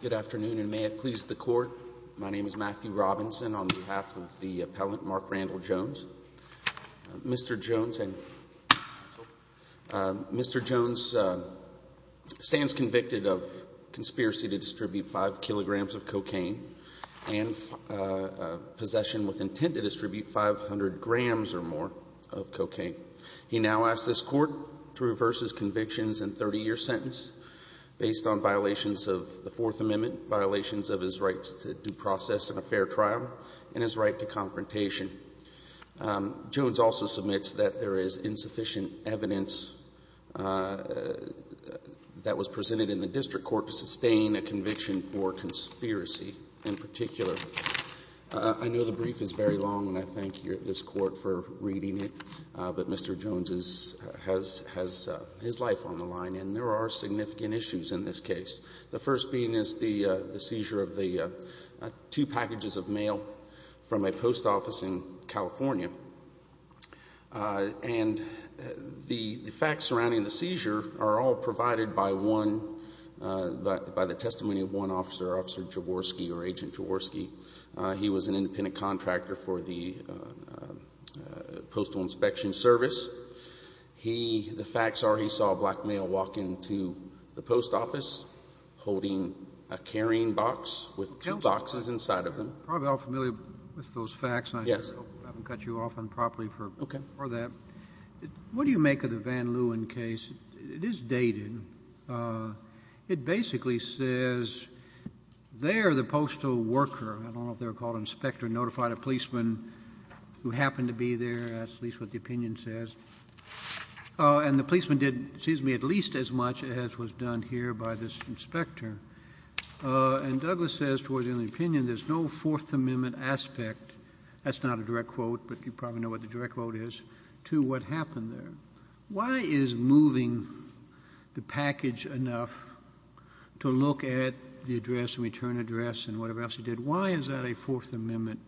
Good afternoon and may it please the court. My name is Matthew Robinson on behalf of the appellant Mark Randall Jones. Mr. Jones stands convicted of conspiracy to distribute five kilograms of cocaine and possession with intent to distribute 500 grams or more of cocaine. He now asks this court to reverse his convictions and 30-year sentence based on violations of the Fourth Amendment, violations of his rights to due process and a fair trial, and his right to confrontation. Jones also submits that there is insufficient evidence that was presented in the district court to sustain a conviction for conspiracy in particular. I know the brief is very long and I thank you at this court for reading it, but Mr. Jones has his life on the line and there are significant issues in this case. The first being is the seizure of the two packages of mail from a post office in California. And the facts surrounding the seizure are all provided by one, by the testimony of one officer, Officer Jaworski or Agent Jaworski. He was an independent contractor for the Postal Inspection Service. He, the facts are he saw a black male walk into the post office holding a carrying box with two boxes inside of them. I'm probably all familiar with those facts and I haven't cut you off on property for that. What do you make of the Van Leeuwen case? It is dated. It basically says there the postal worker, I don't know if they were called an inspector, notified a policeman who happened to be there. That's at least what the opinion says. And the policeman did, excuse me, at least as much as was done here by this inspector. And Douglas says, towards the end of the opinion, there's no Fourth Amendment aspect, that's not a direct quote, but you probably know what the direct quote is, to what happened there. Why is moving the package enough to look at the address and return address and whatever else he did? Why is that a Fourth Amendment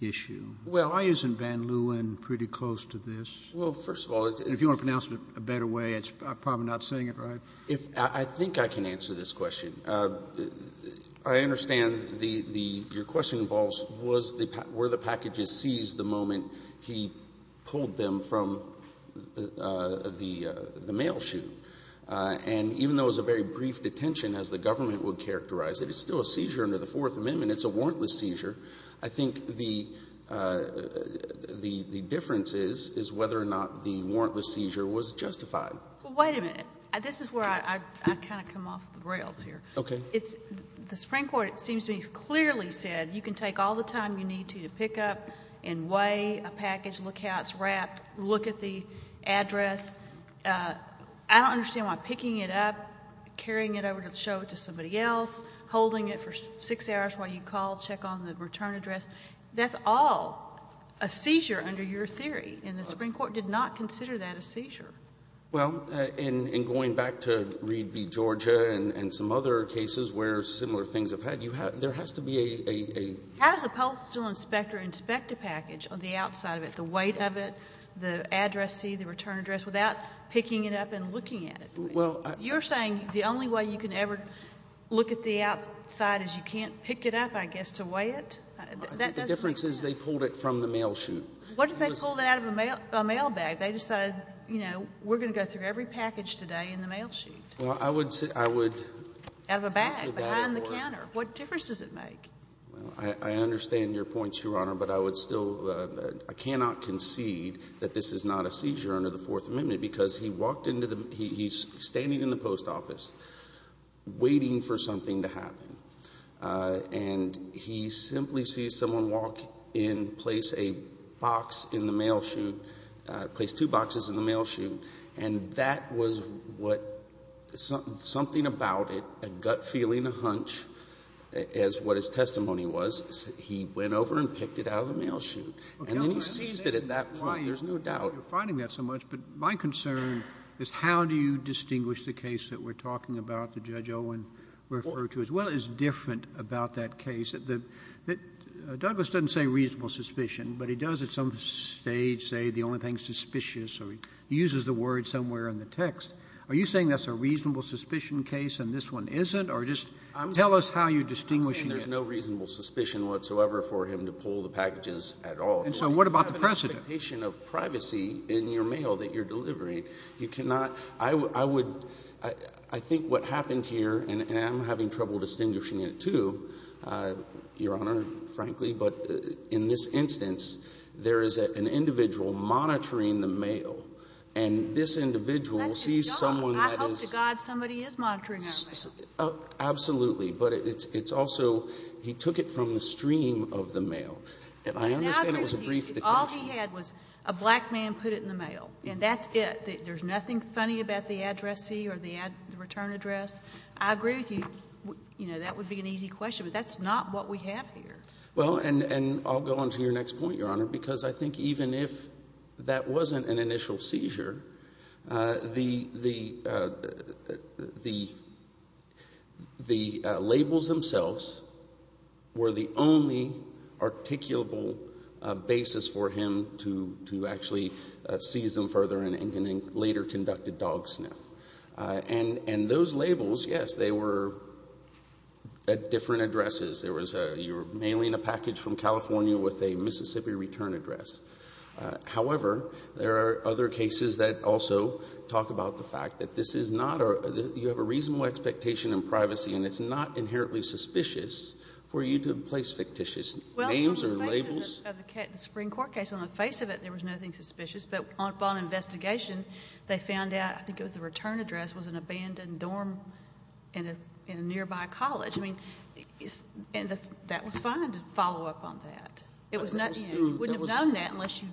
issue? Well, why isn't Van Leeuwen pretty close to this? Well, first of all, it's a — And if you want to pronounce it a better way, it's probably not saying it right. If — I think I can answer this question. I understand the — your question involves was the — were the packages seized the moment he pulled them from the mail chute. And even though it was a very brief detention, as the government would characterize it, it's still a seizure under the Fourth Amendment. It's a warrantless seizure. I think the difference is, is whether or not the warrantless seizure was justified. Well, wait a minute. This is where I kind of come off the rails here. Okay. It's — the Supreme Court, it seems to me, clearly said, you can take all the time you need to, to pick up and weigh a package, look how it's wrapped, look at the address. I don't understand why picking it up, carrying it over to show it to somebody else, holding it for six hours while you call, check on the return address, that's all a seizure under your theory. And the Supreme Court did not consider that a seizure. Well, in going back to Reed v. Georgia and some other cases where similar things have had, you have — there has to be a — How does a postal inspector inspect a package on the outside of it, the weight of it, the address, the return address, without picking it up and looking at it? Well, I — You're saying the only way you can ever look at the outside is you can't pick it up, I guess, to weigh it? The difference is they pulled it from the mail chute. What if they pulled it out of a mail bag? They decided, you know, we're going to go through every package today in the mail chute. Well, I would — Out of a bag, behind the counter. What difference does it make? Well, I understand your point, Your Honor, but I would still — I cannot concede that this is not a seizure under the Fourth Amendment, because he walked into the — he's standing in the post office waiting for something to happen, and he simply sees someone walk in, place a box in the mail chute — place two boxes in the mail chute, and that was what — something about it, a gut feeling, a hunch, is what his testimony was. He went over and picked it out of the mail chute, and then he seized it at that point. There's no doubt. You're finding that so much, but my concern is how do you distinguish the case that we're talking about that Judge Owen referred to, as well as different about that Douglas doesn't say reasonable suspicion, but he does at some stage say the only thing suspicious, or he uses the word somewhere in the text. Are you saying that's a reasonable suspicion case and this one isn't, or just tell us how you distinguish it? I'm saying there's no reasonable suspicion whatsoever for him to pull the packages at all. And so what about the precedent? You have an expectation of privacy in your mail that you're delivering. You cannot — I would — I think what happened here, and I'm having trouble distinguishing it, too, Your Honor, frankly, but in this instance, there is an individual monitoring the mail, and this individual sees someone that is — I hope to God somebody is monitoring our mail. Absolutely. But it's also — he took it from the stream of the mail. And I understand it was a brief detention. All he had was a black man put it in the mail, and that's it. There's nothing funny about the addressee or the return address. I agree with you. You know, that would be an easy question, but that's not what we have here. Well, and I'll go on to your next point, Your Honor, because I think even if that wasn't an initial seizure, the labels themselves were the only articulable basis for him to actually seize them further and later conduct a dog sniff. And those labels, yes, they were at different addresses. There was a — you were mailing a package from California with a Mississippi return address. However, there are other cases that also talk about the fact that this is not — you have a reasonable expectation in privacy, and it's not inherently suspicious for you to place fictitious names or labels. Well, in the case of the — the Supreme Court case, on the face of it, there was nothing suspicious. But upon investigation, they found out — I think it was the return address — was an abandoned dorm in a nearby college. I mean, and that was fine to follow up on that. It was not — you wouldn't have known that unless you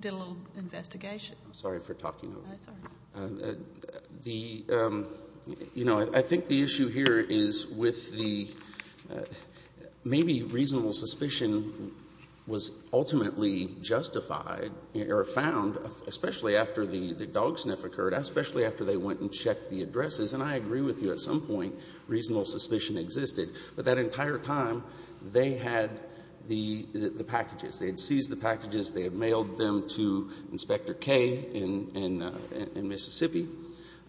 did a little investigation. I'm sorry for talking over you. That's all right. The — you know, I think the issue here is with the — maybe reasonable suspicion was ultimately justified or found, especially after the dog sniff occurred, especially after they went and checked the addresses. And I agree with you. At some point, reasonable suspicion existed. But that entire time, they had the packages. They had seized the packages. They had mailed them to Inspector Kaye in Mississippi,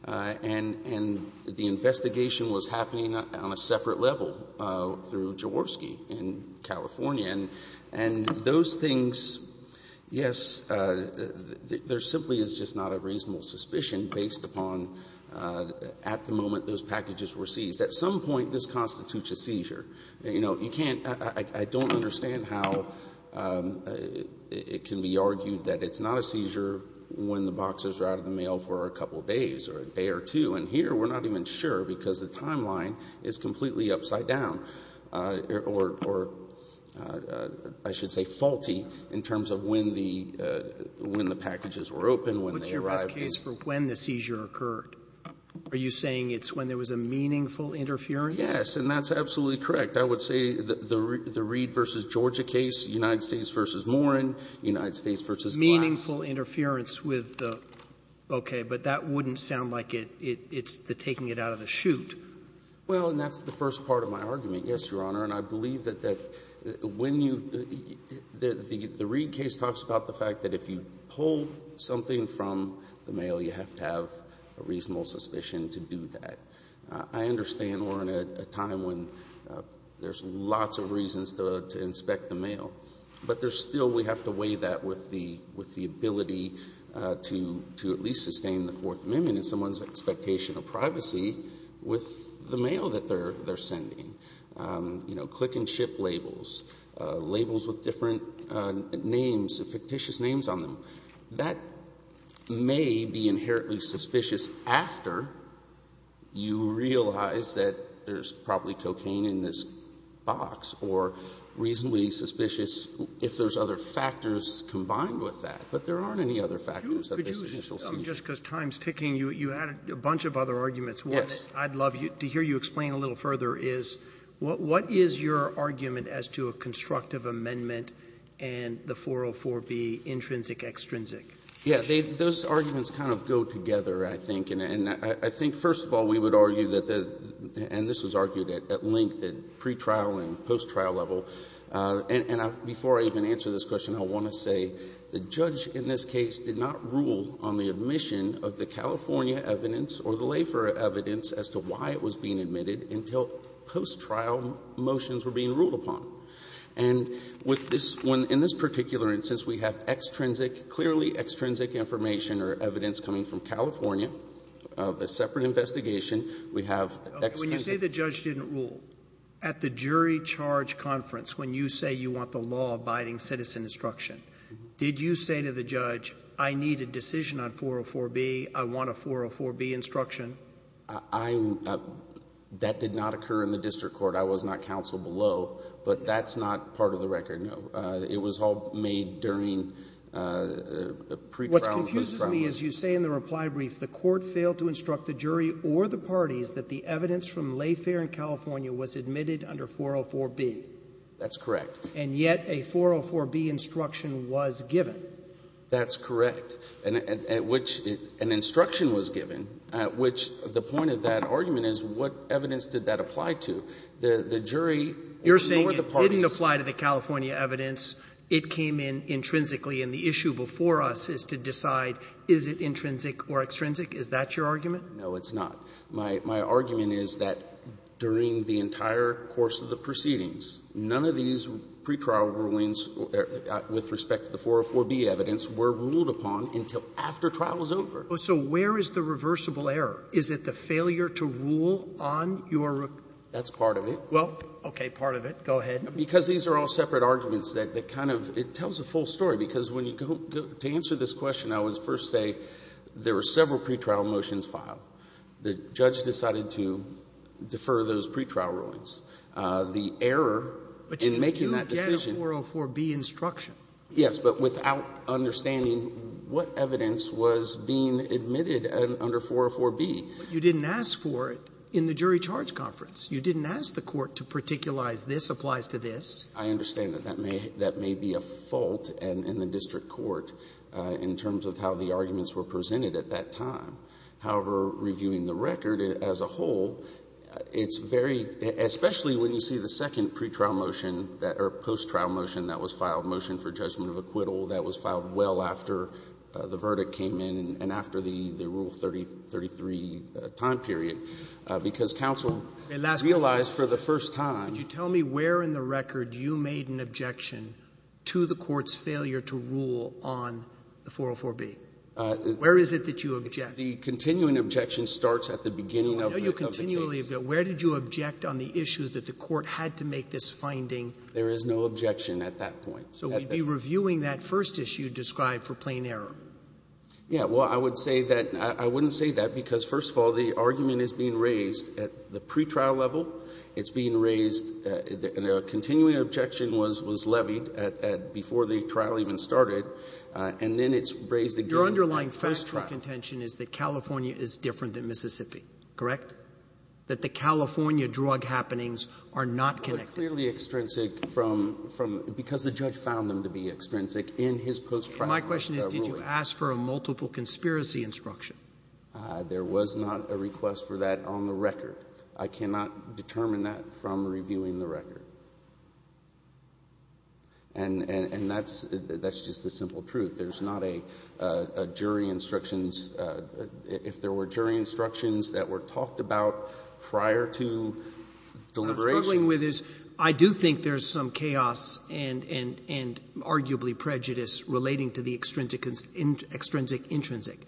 and the investigation was happening on a separate level through Jaworski in California. And those things — yes, there simply is just not a reasonable suspicion based upon at the moment those packages were seized. At some point, this constitutes a seizure. You know, you can't — I don't understand how it can be argued that it's not a seizure when the boxes are out of the mail for a couple days or a day or two. And here, we're not even sure because the timeline is completely upside down or — or I should say faulty in terms of when the — when the packages were opened, when they arrived. Sotomayor, what's your best case for when the seizure occurred? Are you saying it's when there was a meaningful interference? Yes. And that's absolutely correct. I would say the Reid v. Georgia case, United States v. Morin, United States v. Glass. Meaningful interference with the — okay, but that wouldn't sound like it's the taking it out of the chute. Well, and that's the first part of my argument, yes, Your Honor. And I believe that when you — the Reid case talks about the fact that if you pull something from the mail, you have to have a reasonable suspicion to do that. I understand we're in a time when there's lots of reasons to inspect the mail. But there's still — we have to weigh that with the — with the ability to at least sustain the Fourth Amendment in someone's expectation of privacy with the mail that they're — they're sending. You know, click and ship labels, labels with different names, fictitious names on them. That may be inherently suspicious after you realize that there's probably cocaine in this box or reasonably suspicious if there's other factors combined with that. But there aren't any other factors of this initial seizure. Just because time's ticking, you added a bunch of other arguments. Yes. What I'd love to hear you explain a little further is what is your argument as to a constructive amendment and the 404b, intrinsic-extrinsic? Yeah. They — those arguments kind of go together, I think. And I think, first of all, we would argue that the — and this was argued at length at pretrial and post-trial level. And I — before I even answer this question, I want to say the judge in this case did not rule on the admission of the California evidence or the Lafer evidence as to why it was being admitted until post-trial motions were being ruled upon. And with this — when — in this particular instance, we have extrinsic — clearly extrinsic information or evidence coming from California of a separate investigation. We have extrinsic — At the jury charge conference, when you say you want the law abiding citizen instruction, did you say to the judge, I need a decision on 404b, I want a 404b instruction? I — that did not occur in the district court. I was not counsel below. But that's not part of the record, no. It was all made during pretrial and post-trial. What confuses me is you say in the reply brief the court failed to instruct the jury or the judge that it was admitted under 404b. That's correct. And yet a 404b instruction was given. That's correct. And at which — an instruction was given, at which the point of that argument is what evidence did that apply to? The jury or the parties — You're saying it didn't apply to the California evidence. It came in intrinsically. And the issue before us is to decide is it intrinsic or extrinsic? Is that your argument? No, it's not. My — my argument is that during the entire course of the proceedings, none of these pretrial rulings with respect to the 404b evidence were ruled upon until after trial was over. So where is the reversible error? Is it the failure to rule on your — That's part of it. Well, okay. Part of it. Go ahead. Because these are all separate arguments that kind of — it tells a full story. Because when you go — to answer this question, I would first say there were several pretrial motions filed. The judge decided to defer those pretrial rulings. The error in making that decision — But you get a 404b instruction. Yes, but without understanding what evidence was being admitted under 404b. But you didn't ask for it in the jury charge conference. You didn't ask the Court to particularize this applies to this. I understand that that may — that may be a fault in the district court in terms of how the arguments were presented at that time. However, reviewing the record as a whole, it's very — especially when you see the second pretrial motion that — or post-trial motion that was filed, motion for judgment of acquittal, that was filed well after the verdict came in and after the Rule 3033 time period. Because counsel realized for the first time — Could you tell me where in the record you made an objection to the Court's failure to rule on the 404b? Where is it that you object? The continuing objection starts at the beginning of the case. Where did you object on the issue that the Court had to make this finding? There is no objection at that point. So we'd be reviewing that first issue described for plain error. Yeah. Well, I would say that — I wouldn't say that, because, first of all, the argument is being raised at the pretrial level. It's being raised — the continuing objection was levied at — before the trial even started, and then it's raised again at the fact trial. Your underlying post-trial contention is that California is different than Mississippi, correct? That the California drug happenings are not connected. They're clearly extrinsic from — because the judge found them to be extrinsic in his post-trial ruling. My question is, did you ask for a multiple conspiracy instruction? There was not a request for that on the record. I cannot determine that from reviewing the record. And that's — that's just the simple truth. There's not a jury instructions — if there were jury instructions that were talked about prior to deliberations. What I'm struggling with is, I do think there's some chaos and — and arguably prejudice relating to the extrinsic — extrinsic-intrinsic.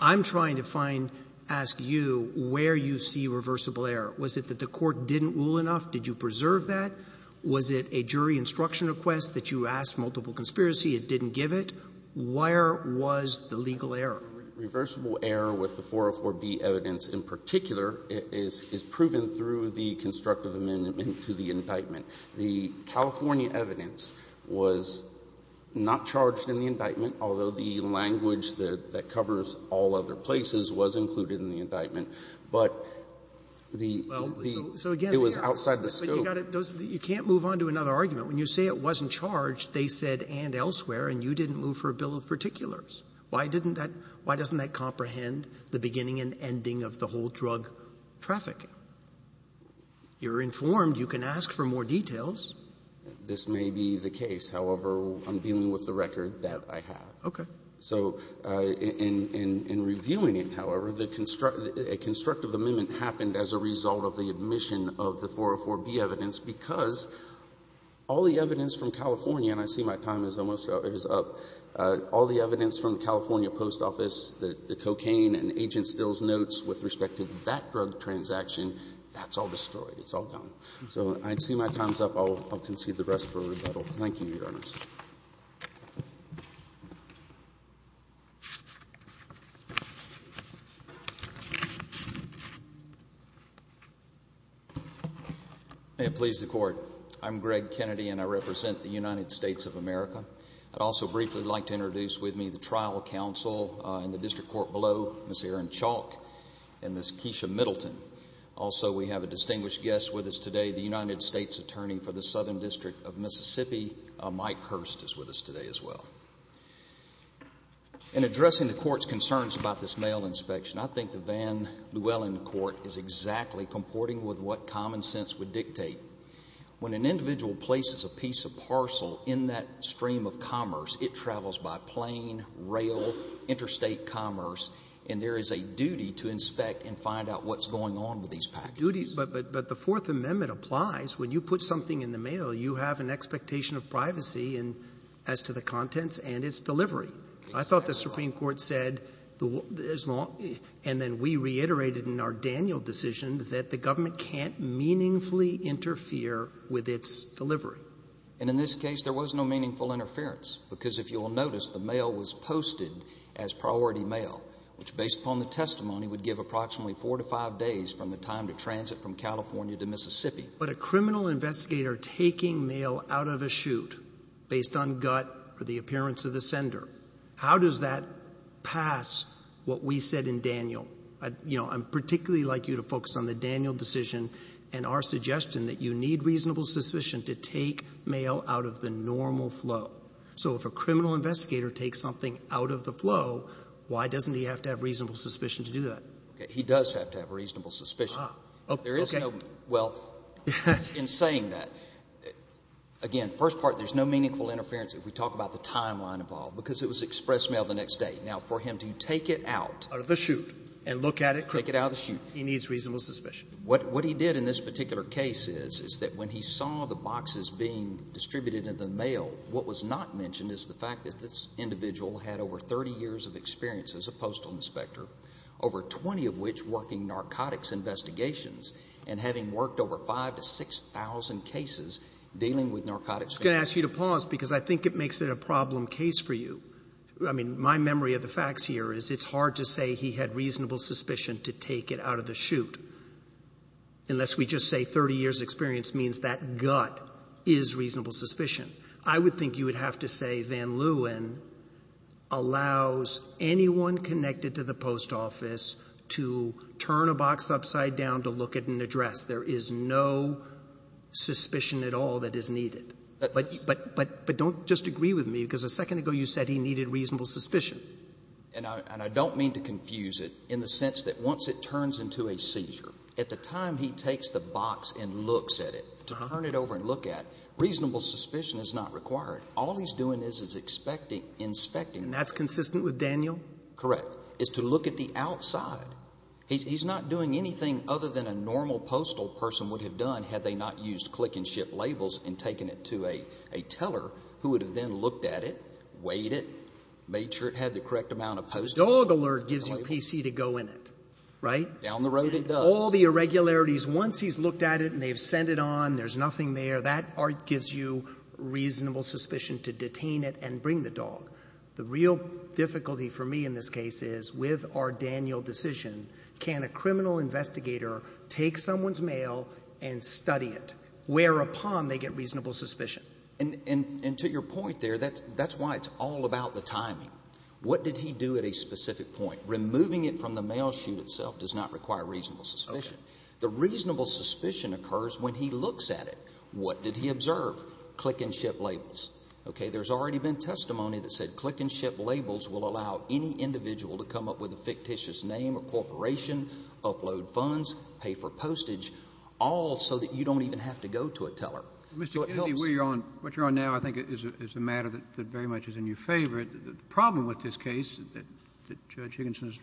I'm trying to find — ask you where you see reversible error. Was it that the Court didn't rule enough? Did you preserve that? Was it a jury instruction request that you asked multiple conspiracy? It didn't give it? Where was the legal error? Reversible error with the 404b evidence in particular is — is proven through the constructive amendment to the indictment. The California evidence was not charged in the indictment, although the language that — that covers all other places was included in the indictment. But the — Well, so again — It was outside the scope. But you got to — you can't move on to another argument. When you say it wasn't charged, they said, and elsewhere, and you didn't move for a bill of particulars. Why didn't that — why doesn't that comprehend the beginning and ending of the whole drug trafficking? You're informed. You can ask for more details. This may be the case. However, I'm dealing with the record that I have. Okay. So in — in reviewing it, however, the — a constructive amendment happened as a result of the omission of the 404b evidence because all the evidence from California — and I see my time is almost up — all the evidence from the California post office, the cocaine and agent stills notes with respect to that drug transaction, that's all destroyed. It's all gone. So I see my time's up. I'll concede the rest for rebuttal. Thank you, Your Honors. May it please the Court. I'm Greg Kennedy, and I represent the United States of America. I'd also briefly like to introduce with me the trial counsel in the district court below, Ms. Erin Chalk and Ms. Keisha Middleton. Also, we have a distinguished guest with us today, the United States attorney for the is with us today as well. In addressing the Court's concerns about this mail inspection, I think the Van Llewellyn Court is exactly comporting with what common sense would dictate. When an individual places a piece of parcel in that stream of commerce, it travels by plane, rail, interstate commerce, and there is a duty to inspect and find out what's going on with these packages. But the Fourth Amendment applies. When you put something in the mail, you have an expectation of privacy as to the contents and its delivery. I thought the Supreme Court said, and then we reiterated in our Daniel decision, that the government can't meaningfully interfere with its delivery. And in this case, there was no meaningful interference, because if you'll notice, the mail was posted as priority mail, which, based upon the testimony, would give approximately four to five days from the time to transit from California to Mississippi. But a criminal investigator taking mail out of a chute based on gut or the appearance of the sender, how does that pass what we said in Daniel? You know, I'd particularly like you to focus on the Daniel decision and our suggestion that you need reasonable suspicion to take mail out of the normal flow. So if a criminal investigator takes something out of the flow, why doesn't he have to have reasonable suspicion to do that? He does have to have reasonable suspicion. There is no – well, in saying that, again, first part, there's no meaningful interference if we talk about the timeline involved, because it was express mail the next day. Now, for him to take it out of the chute and look at it, he needs reasonable suspicion. What he did in this particular case is, is that when he saw the boxes being distributed in the mail, what was not mentioned is the fact that this individual had over 30 years of experience as a postal inspector, over 20 of which working narcotics investigations, and having worked over 5,000 to 6,000 cases dealing with narcotics. I'm going to ask you to pause, because I think it makes it a problem case for you. I mean, my memory of the facts here is it's hard to say he had reasonable suspicion to take it out of the chute, unless we just say 30 years' experience means that gut is reasonable suspicion. I would think you would have to say Van Leeuwen allows anyone connected to the post office to turn a box upside down to look at an address. There is no suspicion at all that is needed. But don't just agree with me, because a second ago you said he needed reasonable suspicion. And I don't mean to confuse it in the sense that once it turns into a seizure, at the time he takes the box and looks at it, to turn it over and look at, reasonable suspicion is not required. All he's doing is inspecting it. And that's consistent with Daniel? Correct. It's to look at the outside. He's not doing anything other than a normal postal person would have done had they not used click-and-ship labels and taken it to a teller who would have then looked at it, weighed it, made sure it had the correct amount of postage. Dog alert gives you PC to go in it, right? Down the road, it does. All the irregularities, once he's looked at it and they've sent it on, there's no reasonable suspicion to detain it and bring the dog. The real difficulty for me in this case is, with our Daniel decision, can a criminal investigator take someone's mail and study it, whereupon they get reasonable suspicion? And to your point there, that's why it's all about the timing. What did he do at a specific point? Removing it from the mail chute itself does not require reasonable suspicion. The reasonable suspicion occurs when he looks at it. What did he observe? Click-and-ship labels. Okay. There's already been testimony that said click-and-ship labels will allow any individual to come up with a fictitious name or corporation, upload funds, pay for postage, all so that you don't even have to go to a teller. So it helps. Kennedy, what you're on now, I think, is a matter that very much is in your favor. The problem with this case that Judge Higginson and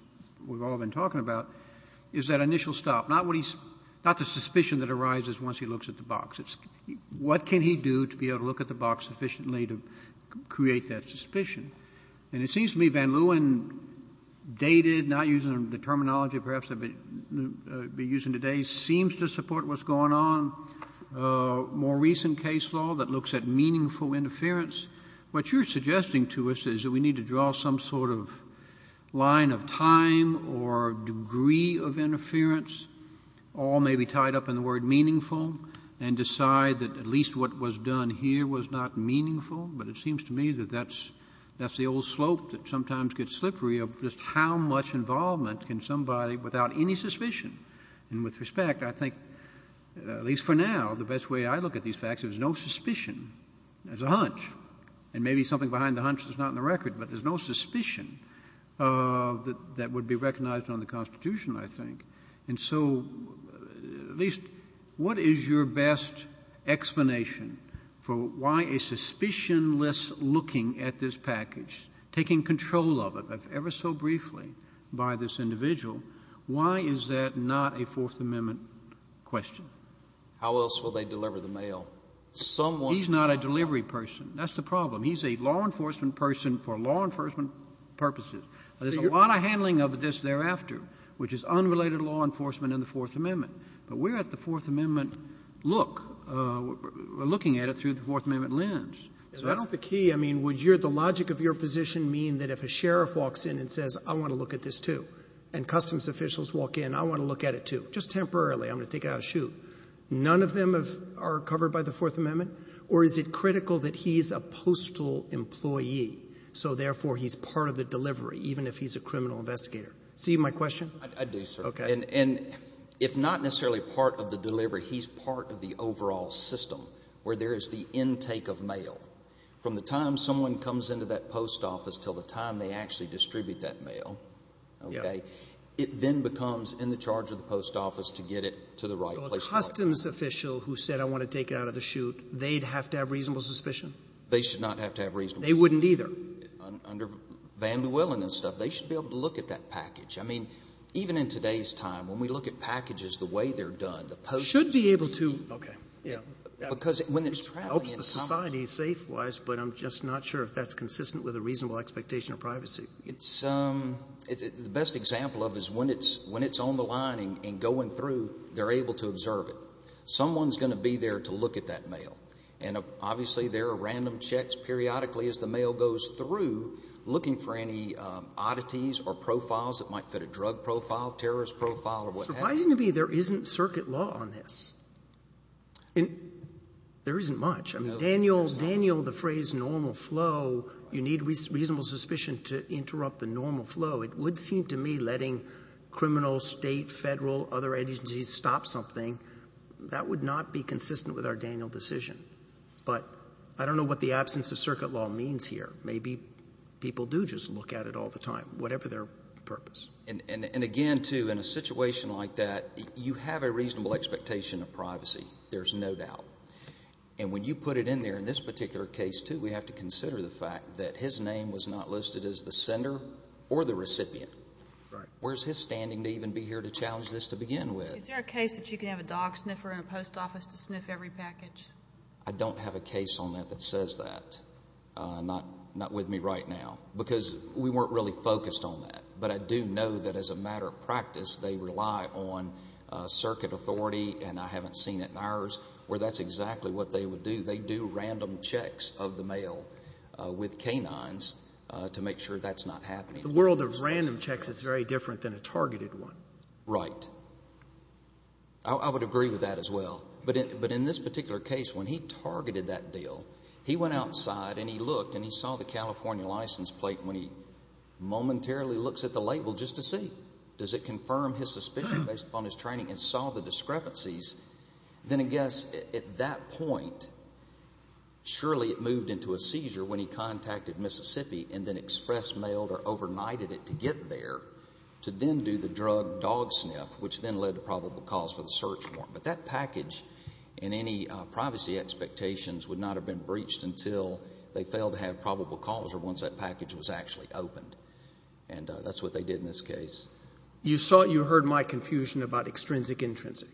we've all been talking about is that initial stop. Not what he's — not the suspicion that arises once he looks at the box. What can he do to be able to look at the box efficiently to create that suspicion? And it seems to me Van Leeuwen, dated, not using the terminology perhaps I'd be using today, seems to support what's going on. More recent case law that looks at meaningful interference. What you're suggesting to us is that we need to draw some sort of line of time or degree of interference, all maybe tied up in the word meaningful, and decide that at least what was done here was not meaningful. But it seems to me that that's — that's the old slope that sometimes gets slippery of just how much involvement can somebody, without any suspicion, and with respect, I think, at least for now, the best way I look at these facts, there's no suspicion. There's a hunch. And maybe something behind the hunch that's not in the record, but there's no suspicion of — that would be recognized on the Constitution, I think. And so at least what is your best explanation for why a suspicionless looking at this package, taking control of it ever so briefly by this individual, why is that not a Fourth Amendment question? How else will they deliver the mail? Someone — He's not a delivery person. That's the problem. He's a law enforcement person for law enforcement purposes. There's a lot of handling of this thereafter, which is unrelated to law enforcement in the Fourth Amendment. But we're at the Fourth Amendment look, looking at it through the Fourth Amendment lens. Isn't that the key? I mean, would your — the logic of your position mean that if a sheriff walks in and says, I want to look at this, too, and customs officials walk in, I want to look at it, too, just temporarily, I'm going to take it out of chute, none of them are covered by the Fourth Amendment? Or is it critical that he's a postal employee, so therefore he's part of the delivery, even if he's a criminal investigator? See my question? I do, sir. OK. And if not necessarily part of the delivery, he's part of the overall system, where there is the intake of mail. From the time someone comes into that post office till the time they actually distribute that mail, OK, it then becomes in the charge of the post office to get it to the right place. Customs official who said, I want to take it out of the chute, they'd have to have reasonable suspicion? They should not have to have reasonable suspicion. They wouldn't either. Under Van Llewellyn and stuff, they should be able to look at that package. I mean, even in today's time, when we look at packages the way they're done, the post office — Should be able to. OK. Yeah. Because when it's traveling — Helps the society safe-wise, but I'm just not sure if that's consistent with a reasonable expectation of privacy. It's — the best example of it is when it's on the line and going through, they're able to observe it. Someone's going to be there to look at that mail. And obviously, there are random checks periodically as the mail goes through, looking for any oddities or profiles that might fit a drug profile, terrorist profile, or what have you. Surprisingly, there isn't circuit law on this. There isn't much. I mean, Daniel — Daniel, the phrase normal flow, you need reasonable suspicion to interrupt the normal flow. It would seem to me letting criminal, state, federal, other agencies stop something, that would not be consistent with our Daniel decision. But I don't know what the absence of circuit law means here. Maybe people do just look at it all the time, whatever their purpose. And again, too, in a situation like that, you have a reasonable expectation of privacy. There's no doubt. And when you put it in there, in this particular case, too, we have to consider the fact that his name was not listed as the sender or the recipient. Where's his standing to even be here to challenge this to begin with? Is there a case that you can have a dog sniffer in a post office to sniff every package? I don't have a case on that that says that. Not with me right now. Because we weren't really focused on that. But I do know that as a matter of practice, they rely on circuit authority, and I haven't seen it in ours, where that's exactly what they would do. They do random checks of the mail with canines to make sure that's not happening. The world of random checks is very different than a targeted one. Right. I would agree with that as well. But in this particular case, when he targeted that deal, he went outside and he looked and he saw the California license plate when he momentarily looks at the label just to see. Does it confirm his suspicion based upon his training and saw the discrepancies? Then I guess at that point, surely it moved into a seizure when he contacted Mississippi and then express mailed or overnighted it to get there to then do the drug dog sniff, which then led to probable cause for the search warrant. But that package and any privacy expectations would not have been breached until they failed to have probable cause or once that package was actually opened. And that's what they did in this case. You saw, you heard my confusion about extrinsic-intrinsic.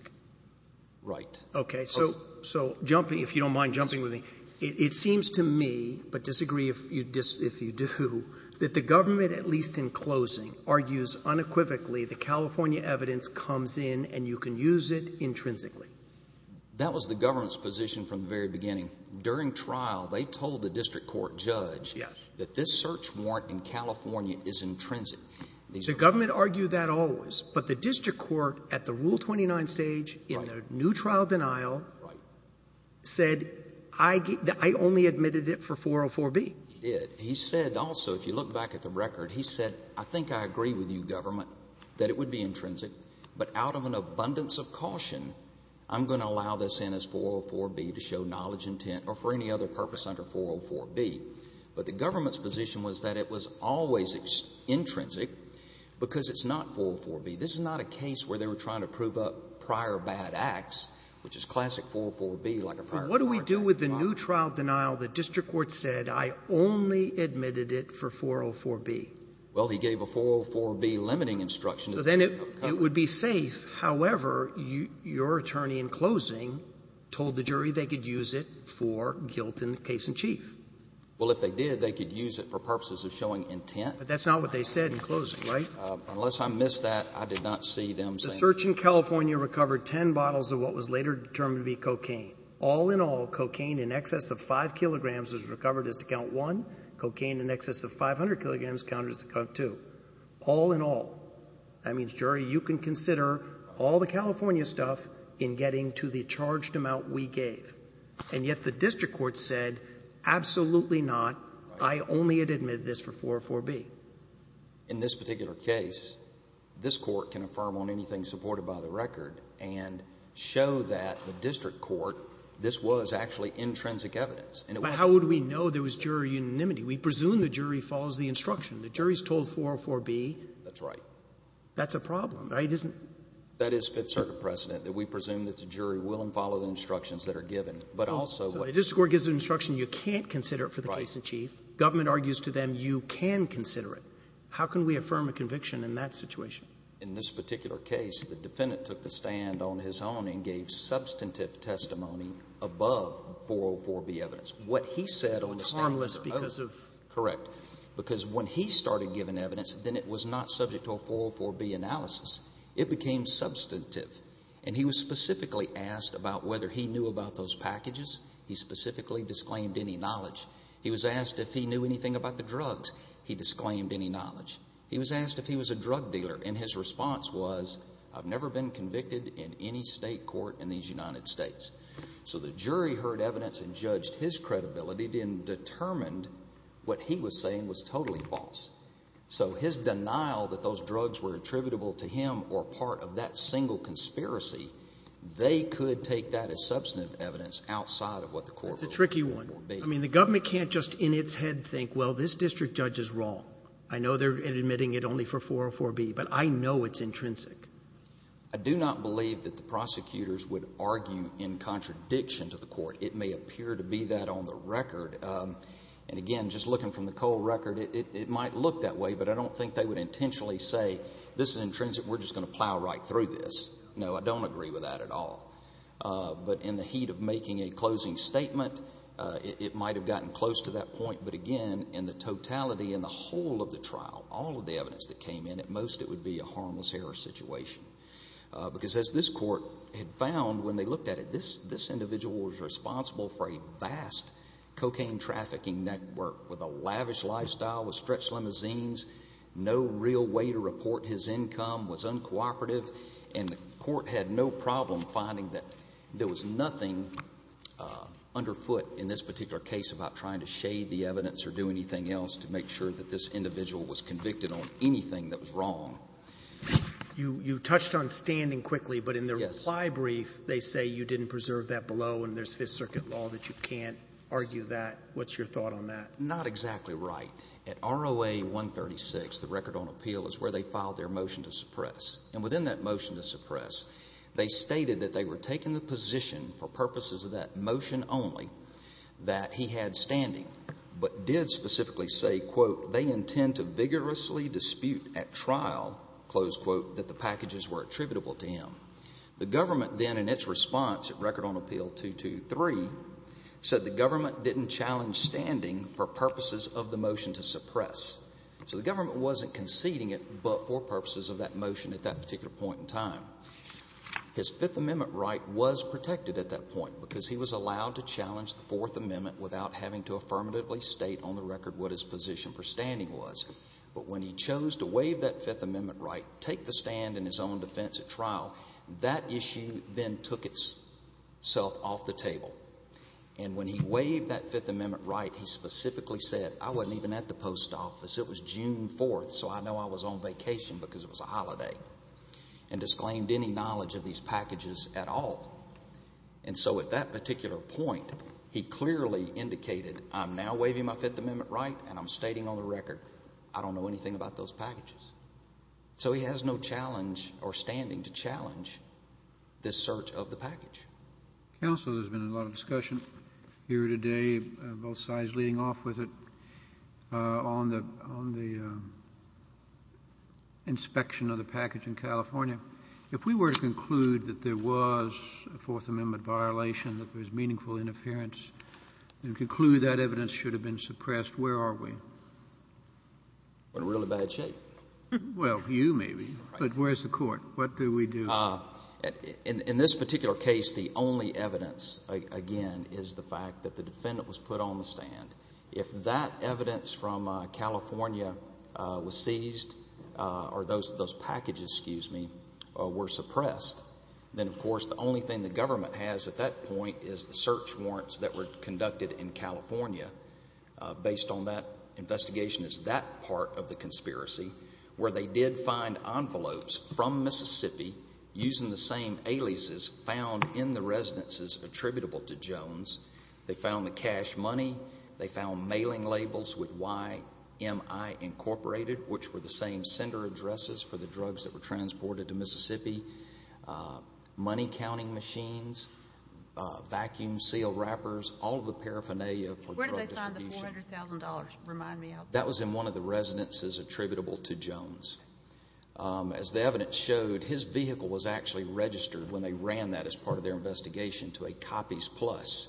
Right. Okay. So jumping, if you don't mind jumping with me, it seems to me, but disagree if you do, that the government, at least in closing, argues unequivocally the California evidence comes in and you can use it intrinsically. That was the government's position from the very beginning. During trial, they told the district court judge that this search warrant in California is intrinsic. The government argued that always. But the district court at the Rule 29 stage in the new trial denial said I only admitted it for 404B. He did. He said also, if you look back at the record, he said, I think I agree with you, government, that it would be intrinsic, but out of an abundance of caution, I'm going to allow this in as 404B to show knowledge, intent, or for any other purpose under 404B. But the government's position was that it was always intrinsic because it's not 404B. This is not a case where they were trying to prove up prior bad acts, which is classic 404B, like a prior bad act. But what do we do with the new trial denial that district court said, I only admitted it for 404B? Well, he gave a 404B limiting instruction. So then it would be safe. However, your attorney in closing told the jury they could use it for guilt in the case in chief. Well, if they did, they could use it for purposes of showing intent. But that's not what they said in closing, right? Unless I missed that, I did not see them saying it. The search in California recovered 10 bottles of what was later determined to be cocaine. All in all, cocaine in excess of 5 kilograms was recovered as to count 1. Cocaine in excess of 500 kilograms counted as to count 2. All in all, that means, jury, you can consider all the California stuff in getting to the charged amount we gave. And yet the district court said, absolutely not. I only had admitted this for 404B. In this particular case, this court can affirm on anything supported by the record and show that the district court, this was actually intrinsic evidence. And it was the jury. But how would we know there was jury unanimity? We presume the jury follows the instruction. The jury's told 404B. That's right. That's a problem, right? Isn't it? That is Fifth Circuit precedent, that we presume that the jury will follow the instructions that are given. But also what the district court gives an instruction, you can't consider it for the case in chief. Government argues to them, you can consider it. How can we affirm a conviction in that situation? In this particular case, the defendant took the stand on his own and gave substantive testimony above 404B evidence. What he said on the stand. Harmless because of. Correct. Because when he started giving evidence, then it was not subject to a 404B analysis. It became substantive. And he was specifically asked about whether he knew about those packages. He specifically disclaimed any knowledge. He was asked if he knew anything about the drugs. He disclaimed any knowledge. He was asked if he was a drug dealer. And his response was, I've never been convicted in any state court in these United States. So the jury heard evidence and judged his credibility and determined what he was saying was totally false. So his denial that those drugs were attributable to him or part of that single conspiracy, they could take that as substantive evidence outside of what the court ruled 404B. I mean, the government can't just in its head think, well, this district judge is wrong. I know they're admitting it only for 404B, but I know it's intrinsic. I do not believe that the prosecutors would argue in contradiction to the court. It may appear to be that on the record. And again, just looking from the Cole record, it might look that way. But I don't think they would intentionally say, this is intrinsic. We're just going to plow right through this. No, I don't agree with that at all. But in the heat of making a closing statement, it might have gotten close to that point. But again, in the totality and the whole of the trial, all of the evidence that came in, at most it would be a harmless error situation. Because as this court had found when they looked at it, this individual was responsible for a vast cocaine trafficking network with a lavish lifestyle, with stretched limousines, no real way to report his income, was uncooperative, and the court had no problem finding that there was nothing underfoot in this particular case about trying to shade the evidence or do anything else to make sure that this individual was convicted on anything that was wrong. You touched on standing quickly, but in the reply brief, they say you didn't preserve that below and there's Fifth Circuit law that you can't argue that. What's your thought on that? Not exactly right. At ROA 136, the record on appeal, is where they filed their motion to suppress. And within that motion to suppress, they stated that they were taking the position for purposes of that motion only that he had standing, but did specifically say, quote, they intend to vigorously dispute at trial, close quote, that the packages were attributable to him. The government then, in its response at record on appeal 223, said the government wasn't conceding it, but for purposes of that motion at that particular point in time. His Fifth Amendment right was protected at that point because he was allowed to challenge the Fourth Amendment without having to affirmatively state on the record what his position for standing was. But when he chose to waive that Fifth Amendment right, take the stand in his own defense at trial, that issue then took itself off the table. And when he waived that Fifth Amendment right, he specifically said, I wasn't even at the post office. It was June 4th, so I know I was on vacation because it was a holiday, and disclaimed any knowledge of these packages at all. And so at that particular point, he clearly indicated, I'm now waiving my Fifth Amendment right, and I'm stating on the record, I don't know anything about those packages. So he has no challenge or standing to challenge this search of the package. Kennedy. Counsel, there's been a lot of discussion here today, both sides leading off with it, on the — on the inspection of the package in California. If we were to conclude that there was a Fourth Amendment violation, that there was meaningful interference, and conclude that evidence should have been suppressed, where are we? We're in really bad shape. Well, you may be. Right. But where's the Court? What do we do? Well, in this particular case, the only evidence, again, is the fact that the defendant was put on the stand. If that evidence from California was seized, or those packages, excuse me, were suppressed, then, of course, the only thing the government has at that point is the search warrants that were conducted in California. Based on that investigation, it's that part of the conspiracy where they did find envelopes from Mississippi using the same aliases found in the residences attributable to Jones. They found the cash money. They found mailing labels with YMI, Incorporated, which were the same sender addresses for the drugs that were transported to Mississippi, money counting machines, vacuum seal wrappers, all of the paraphernalia for drug distribution. Where did they find the $400,000, remind me? That was in one of the residences attributable to Jones. As the evidence showed, his vehicle was actually registered when they ran that as part of their investigation to a Copies Plus,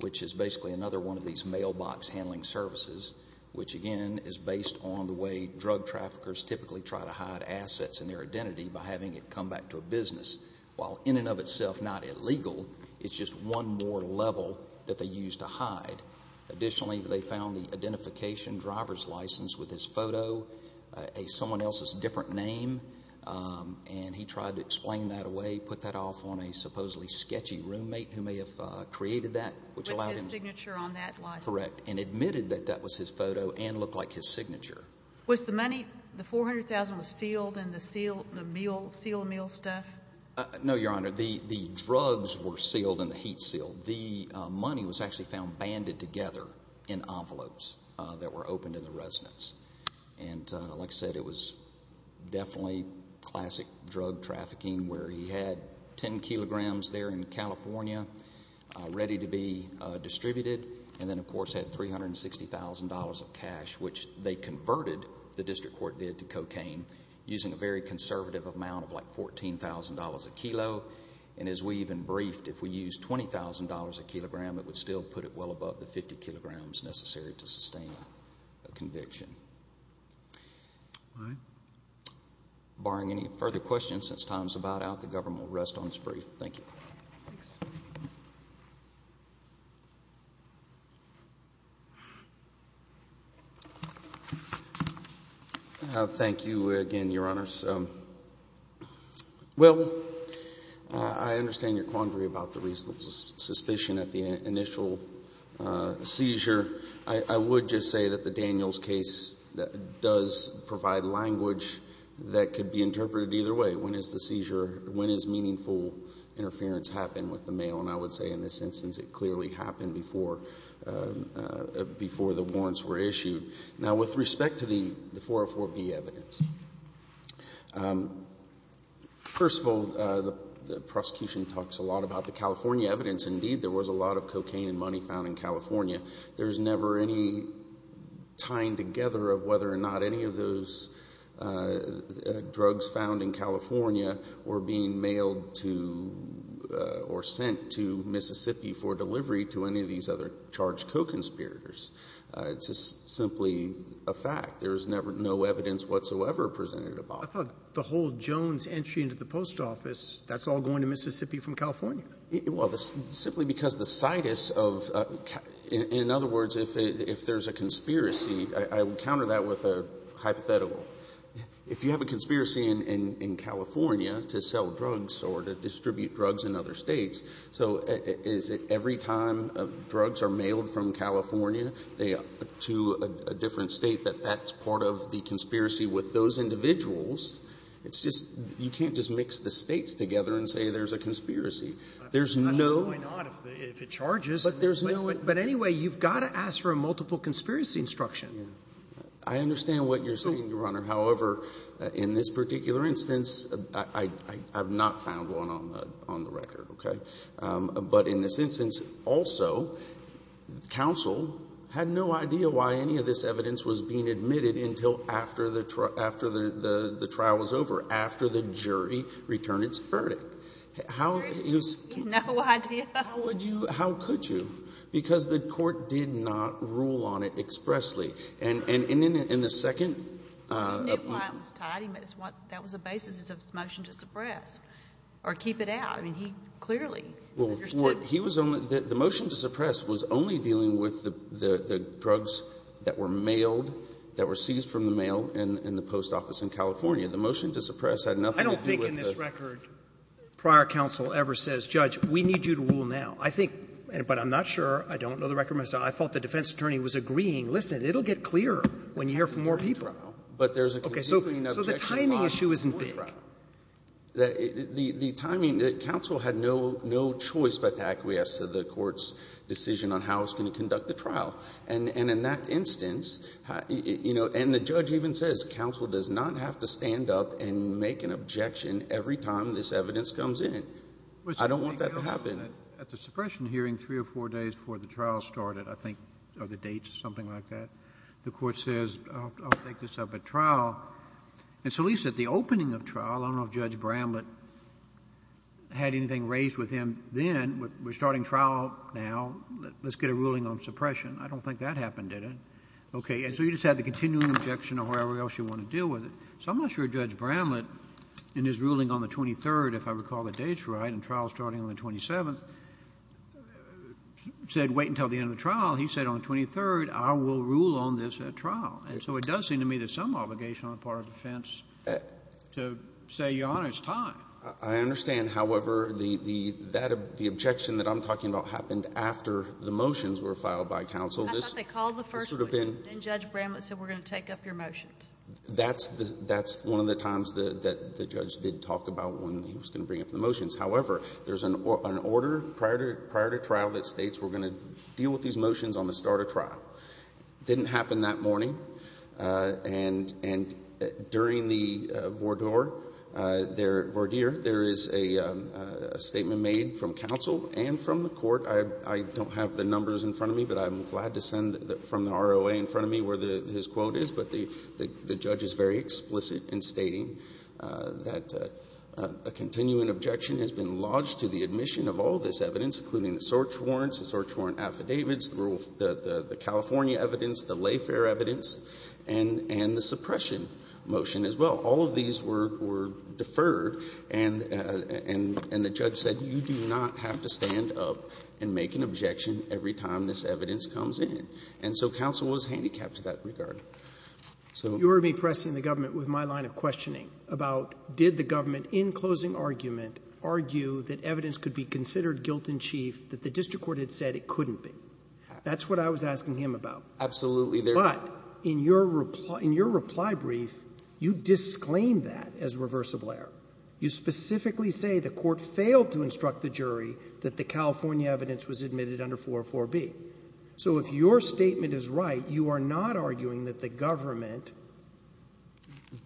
which is basically another one of these mailbox handling services, which again is based on the way drug traffickers typically try to hide assets and their identity by having it come back to a business. While in and of itself not illegal, it's just one more level that they used to hide. Additionally, they found the identification driver's license with his photo. Someone else's different name, and he tried to explain that away, put that off on a supposedly sketchy roommate who may have created that, which allowed him to... With his signature on that license. Correct, and admitted that that was his photo and looked like his signature. Was the money, the $400,000, was sealed in the seal, the seal meal stuff? No, Your Honor. The drugs were sealed in the heat seal. The money was actually found banded together in envelopes that were opened in the residence. Like I said, it was definitely classic drug trafficking where he had 10 kilograms there in California ready to be distributed, and then of course had $360,000 of cash, which they converted, the district court did, to cocaine, using a very conservative amount of like $14,000 a kilo. As we even briefed, if we used $20,000 a kilogram, it would still put it well above the 50 kilograms necessary to sustain a conviction. Barring any further questions, since time is about out, the government will rest on its brief. Thank you. Thanks. Thank you again, Your Honors. Well, I understand your quandary about the reasonable suspicion at the initial seizure. I would just say that the Daniels case does provide language that could be interpreted either way. When is the seizure, when is meaningful interference happened with the mail? And I would say in this instance, it clearly happened before the warrants were issued. Now, with respect to the 404B evidence, first of all, the prosecution talks a lot about the California evidence. Indeed, there was a lot of cocaine and money found in California. There's never any tying together of whether or not any of those drugs found in California were being mailed to or sent to Mississippi for delivery to any of these other charged co-conspirators. It's just simply a fact. There's never no evidence whatsoever presented about it. I thought the whole Jones entry into the post office, that's all going to Mississippi from California. Well, simply because the situs of — in other words, if there's a conspiracy, I would counter that with a hypothetical. If you have a conspiracy in California to sell drugs or to distribute drugs in other California to a different State, that that's part of the conspiracy with those individuals, it's just — you can't just mix the States together and say there's a conspiracy. There's no — I'm not sure why not, if it charges, but anyway, you've got to ask for a multiple conspiracy instruction. I understand what you're saying, Your Honor. However, in this particular instance, I have not found one on the record, okay? But in this instance, also, counsel had no idea why any of this evidence was being admitted until after the trial was over, after the jury returned its verdict. How — No idea. How would you — how could you? Because the court did not rule on it expressly. And in the second — He knew why it was tied, but that was the basis of his motion to suppress or keep it out. I mean, he clearly understood — Well, he was only — the motion to suppress was only dealing with the drugs that were mailed, that were seized from the mail in the post office in California. The motion to suppress had nothing to do with the — I don't think in this record prior counsel ever says, Judge, we need you to rule now. I think — but I'm not sure. I don't know the record myself. I thought the defense attorney was agreeing, listen, it'll get clearer when you hear from more people. But there's a — Okay. So the timing issue isn't big. The timing — the counsel had no choice but to acquiesce to the court's decision on how it was going to conduct the trial. And in that instance, you know — and the judge even says counsel does not have to stand up and make an objection every time this evidence comes in. I don't want that to happen. At the suppression hearing three or four days before the trial started, I think, or the date, something like that, the court says, I'll take this up at trial. And so at least at the opening of trial, I don't know if Judge Bramlett had anything raised with him then. We're starting trial now. Let's get a ruling on suppression. I don't think that happened, did it? Okay. And so you just had the continuing objection or wherever else you want to deal with it. So I'm not sure Judge Bramlett, in his ruling on the 23rd, if I recall the dates right, and trial starting on the 27th, said wait until the end of the trial. He said on the 23rd, I will rule on this trial. And so it does seem to me there's some obligation on the part of defense to say, Your Honor, it's time. I understand. However, the objection that I'm talking about happened after the motions were filed by counsel. I thought they called the first one. Then Judge Bramlett said we're going to take up your motions. That's one of the times that the judge did talk about when he was going to bring up the motions. However, there's an order prior to trial that states we're going to deal with these motions on the start of trial. Didn't happen that morning. And during the voir dire, there is a statement made from counsel and from the court. I don't have the numbers in front of me, but I'm glad to send from the ROA in front of me where his quote is. But the judge is very explicit in stating that a continuing objection has been lodged to the admission of all this evidence, including the search warrants, the search California evidence, the lay fair evidence, and the suppression motion as well. All of these were deferred, and the judge said you do not have to stand up and make an objection every time this evidence comes in. And so counsel was handicapped to that regard. So you heard me pressing the government with my line of questioning about did the government, in closing argument, argue that evidence could be considered guilt-in-chief that the district court had said it couldn't be. That's what I was asking him about. Absolutely. But in your reply brief, you disclaimed that as reversible error. You specifically say the court failed to instruct the jury that the California evidence was admitted under 404B. So if your statement is right, you are not arguing that the government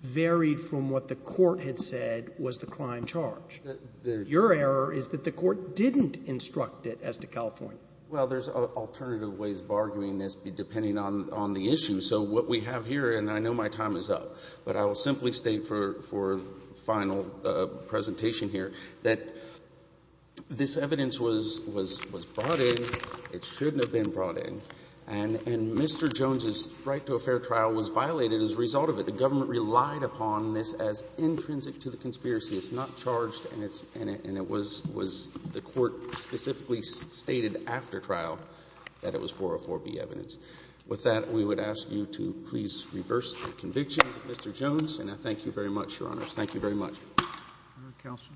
varied from what the court had said was the crime charge. Your error is that the court didn't instruct it as to California. Well, there's alternative ways of arguing this, depending on the issue. So what we have here, and I know my time is up, but I will simply state for final presentation here, that this evidence was brought in, it shouldn't have been brought in, and Mr. Jones' right to a fair trial was violated as a result of it. The government relied upon this as intrinsic to the conspiracy. It's not charged, and it was the court specifically stated after trial that it was 404B evidence. With that, we would ask you to please reverse the conviction, Mr. Jones. And I thank you very much, Your Honors. Thank you very much. Counsel.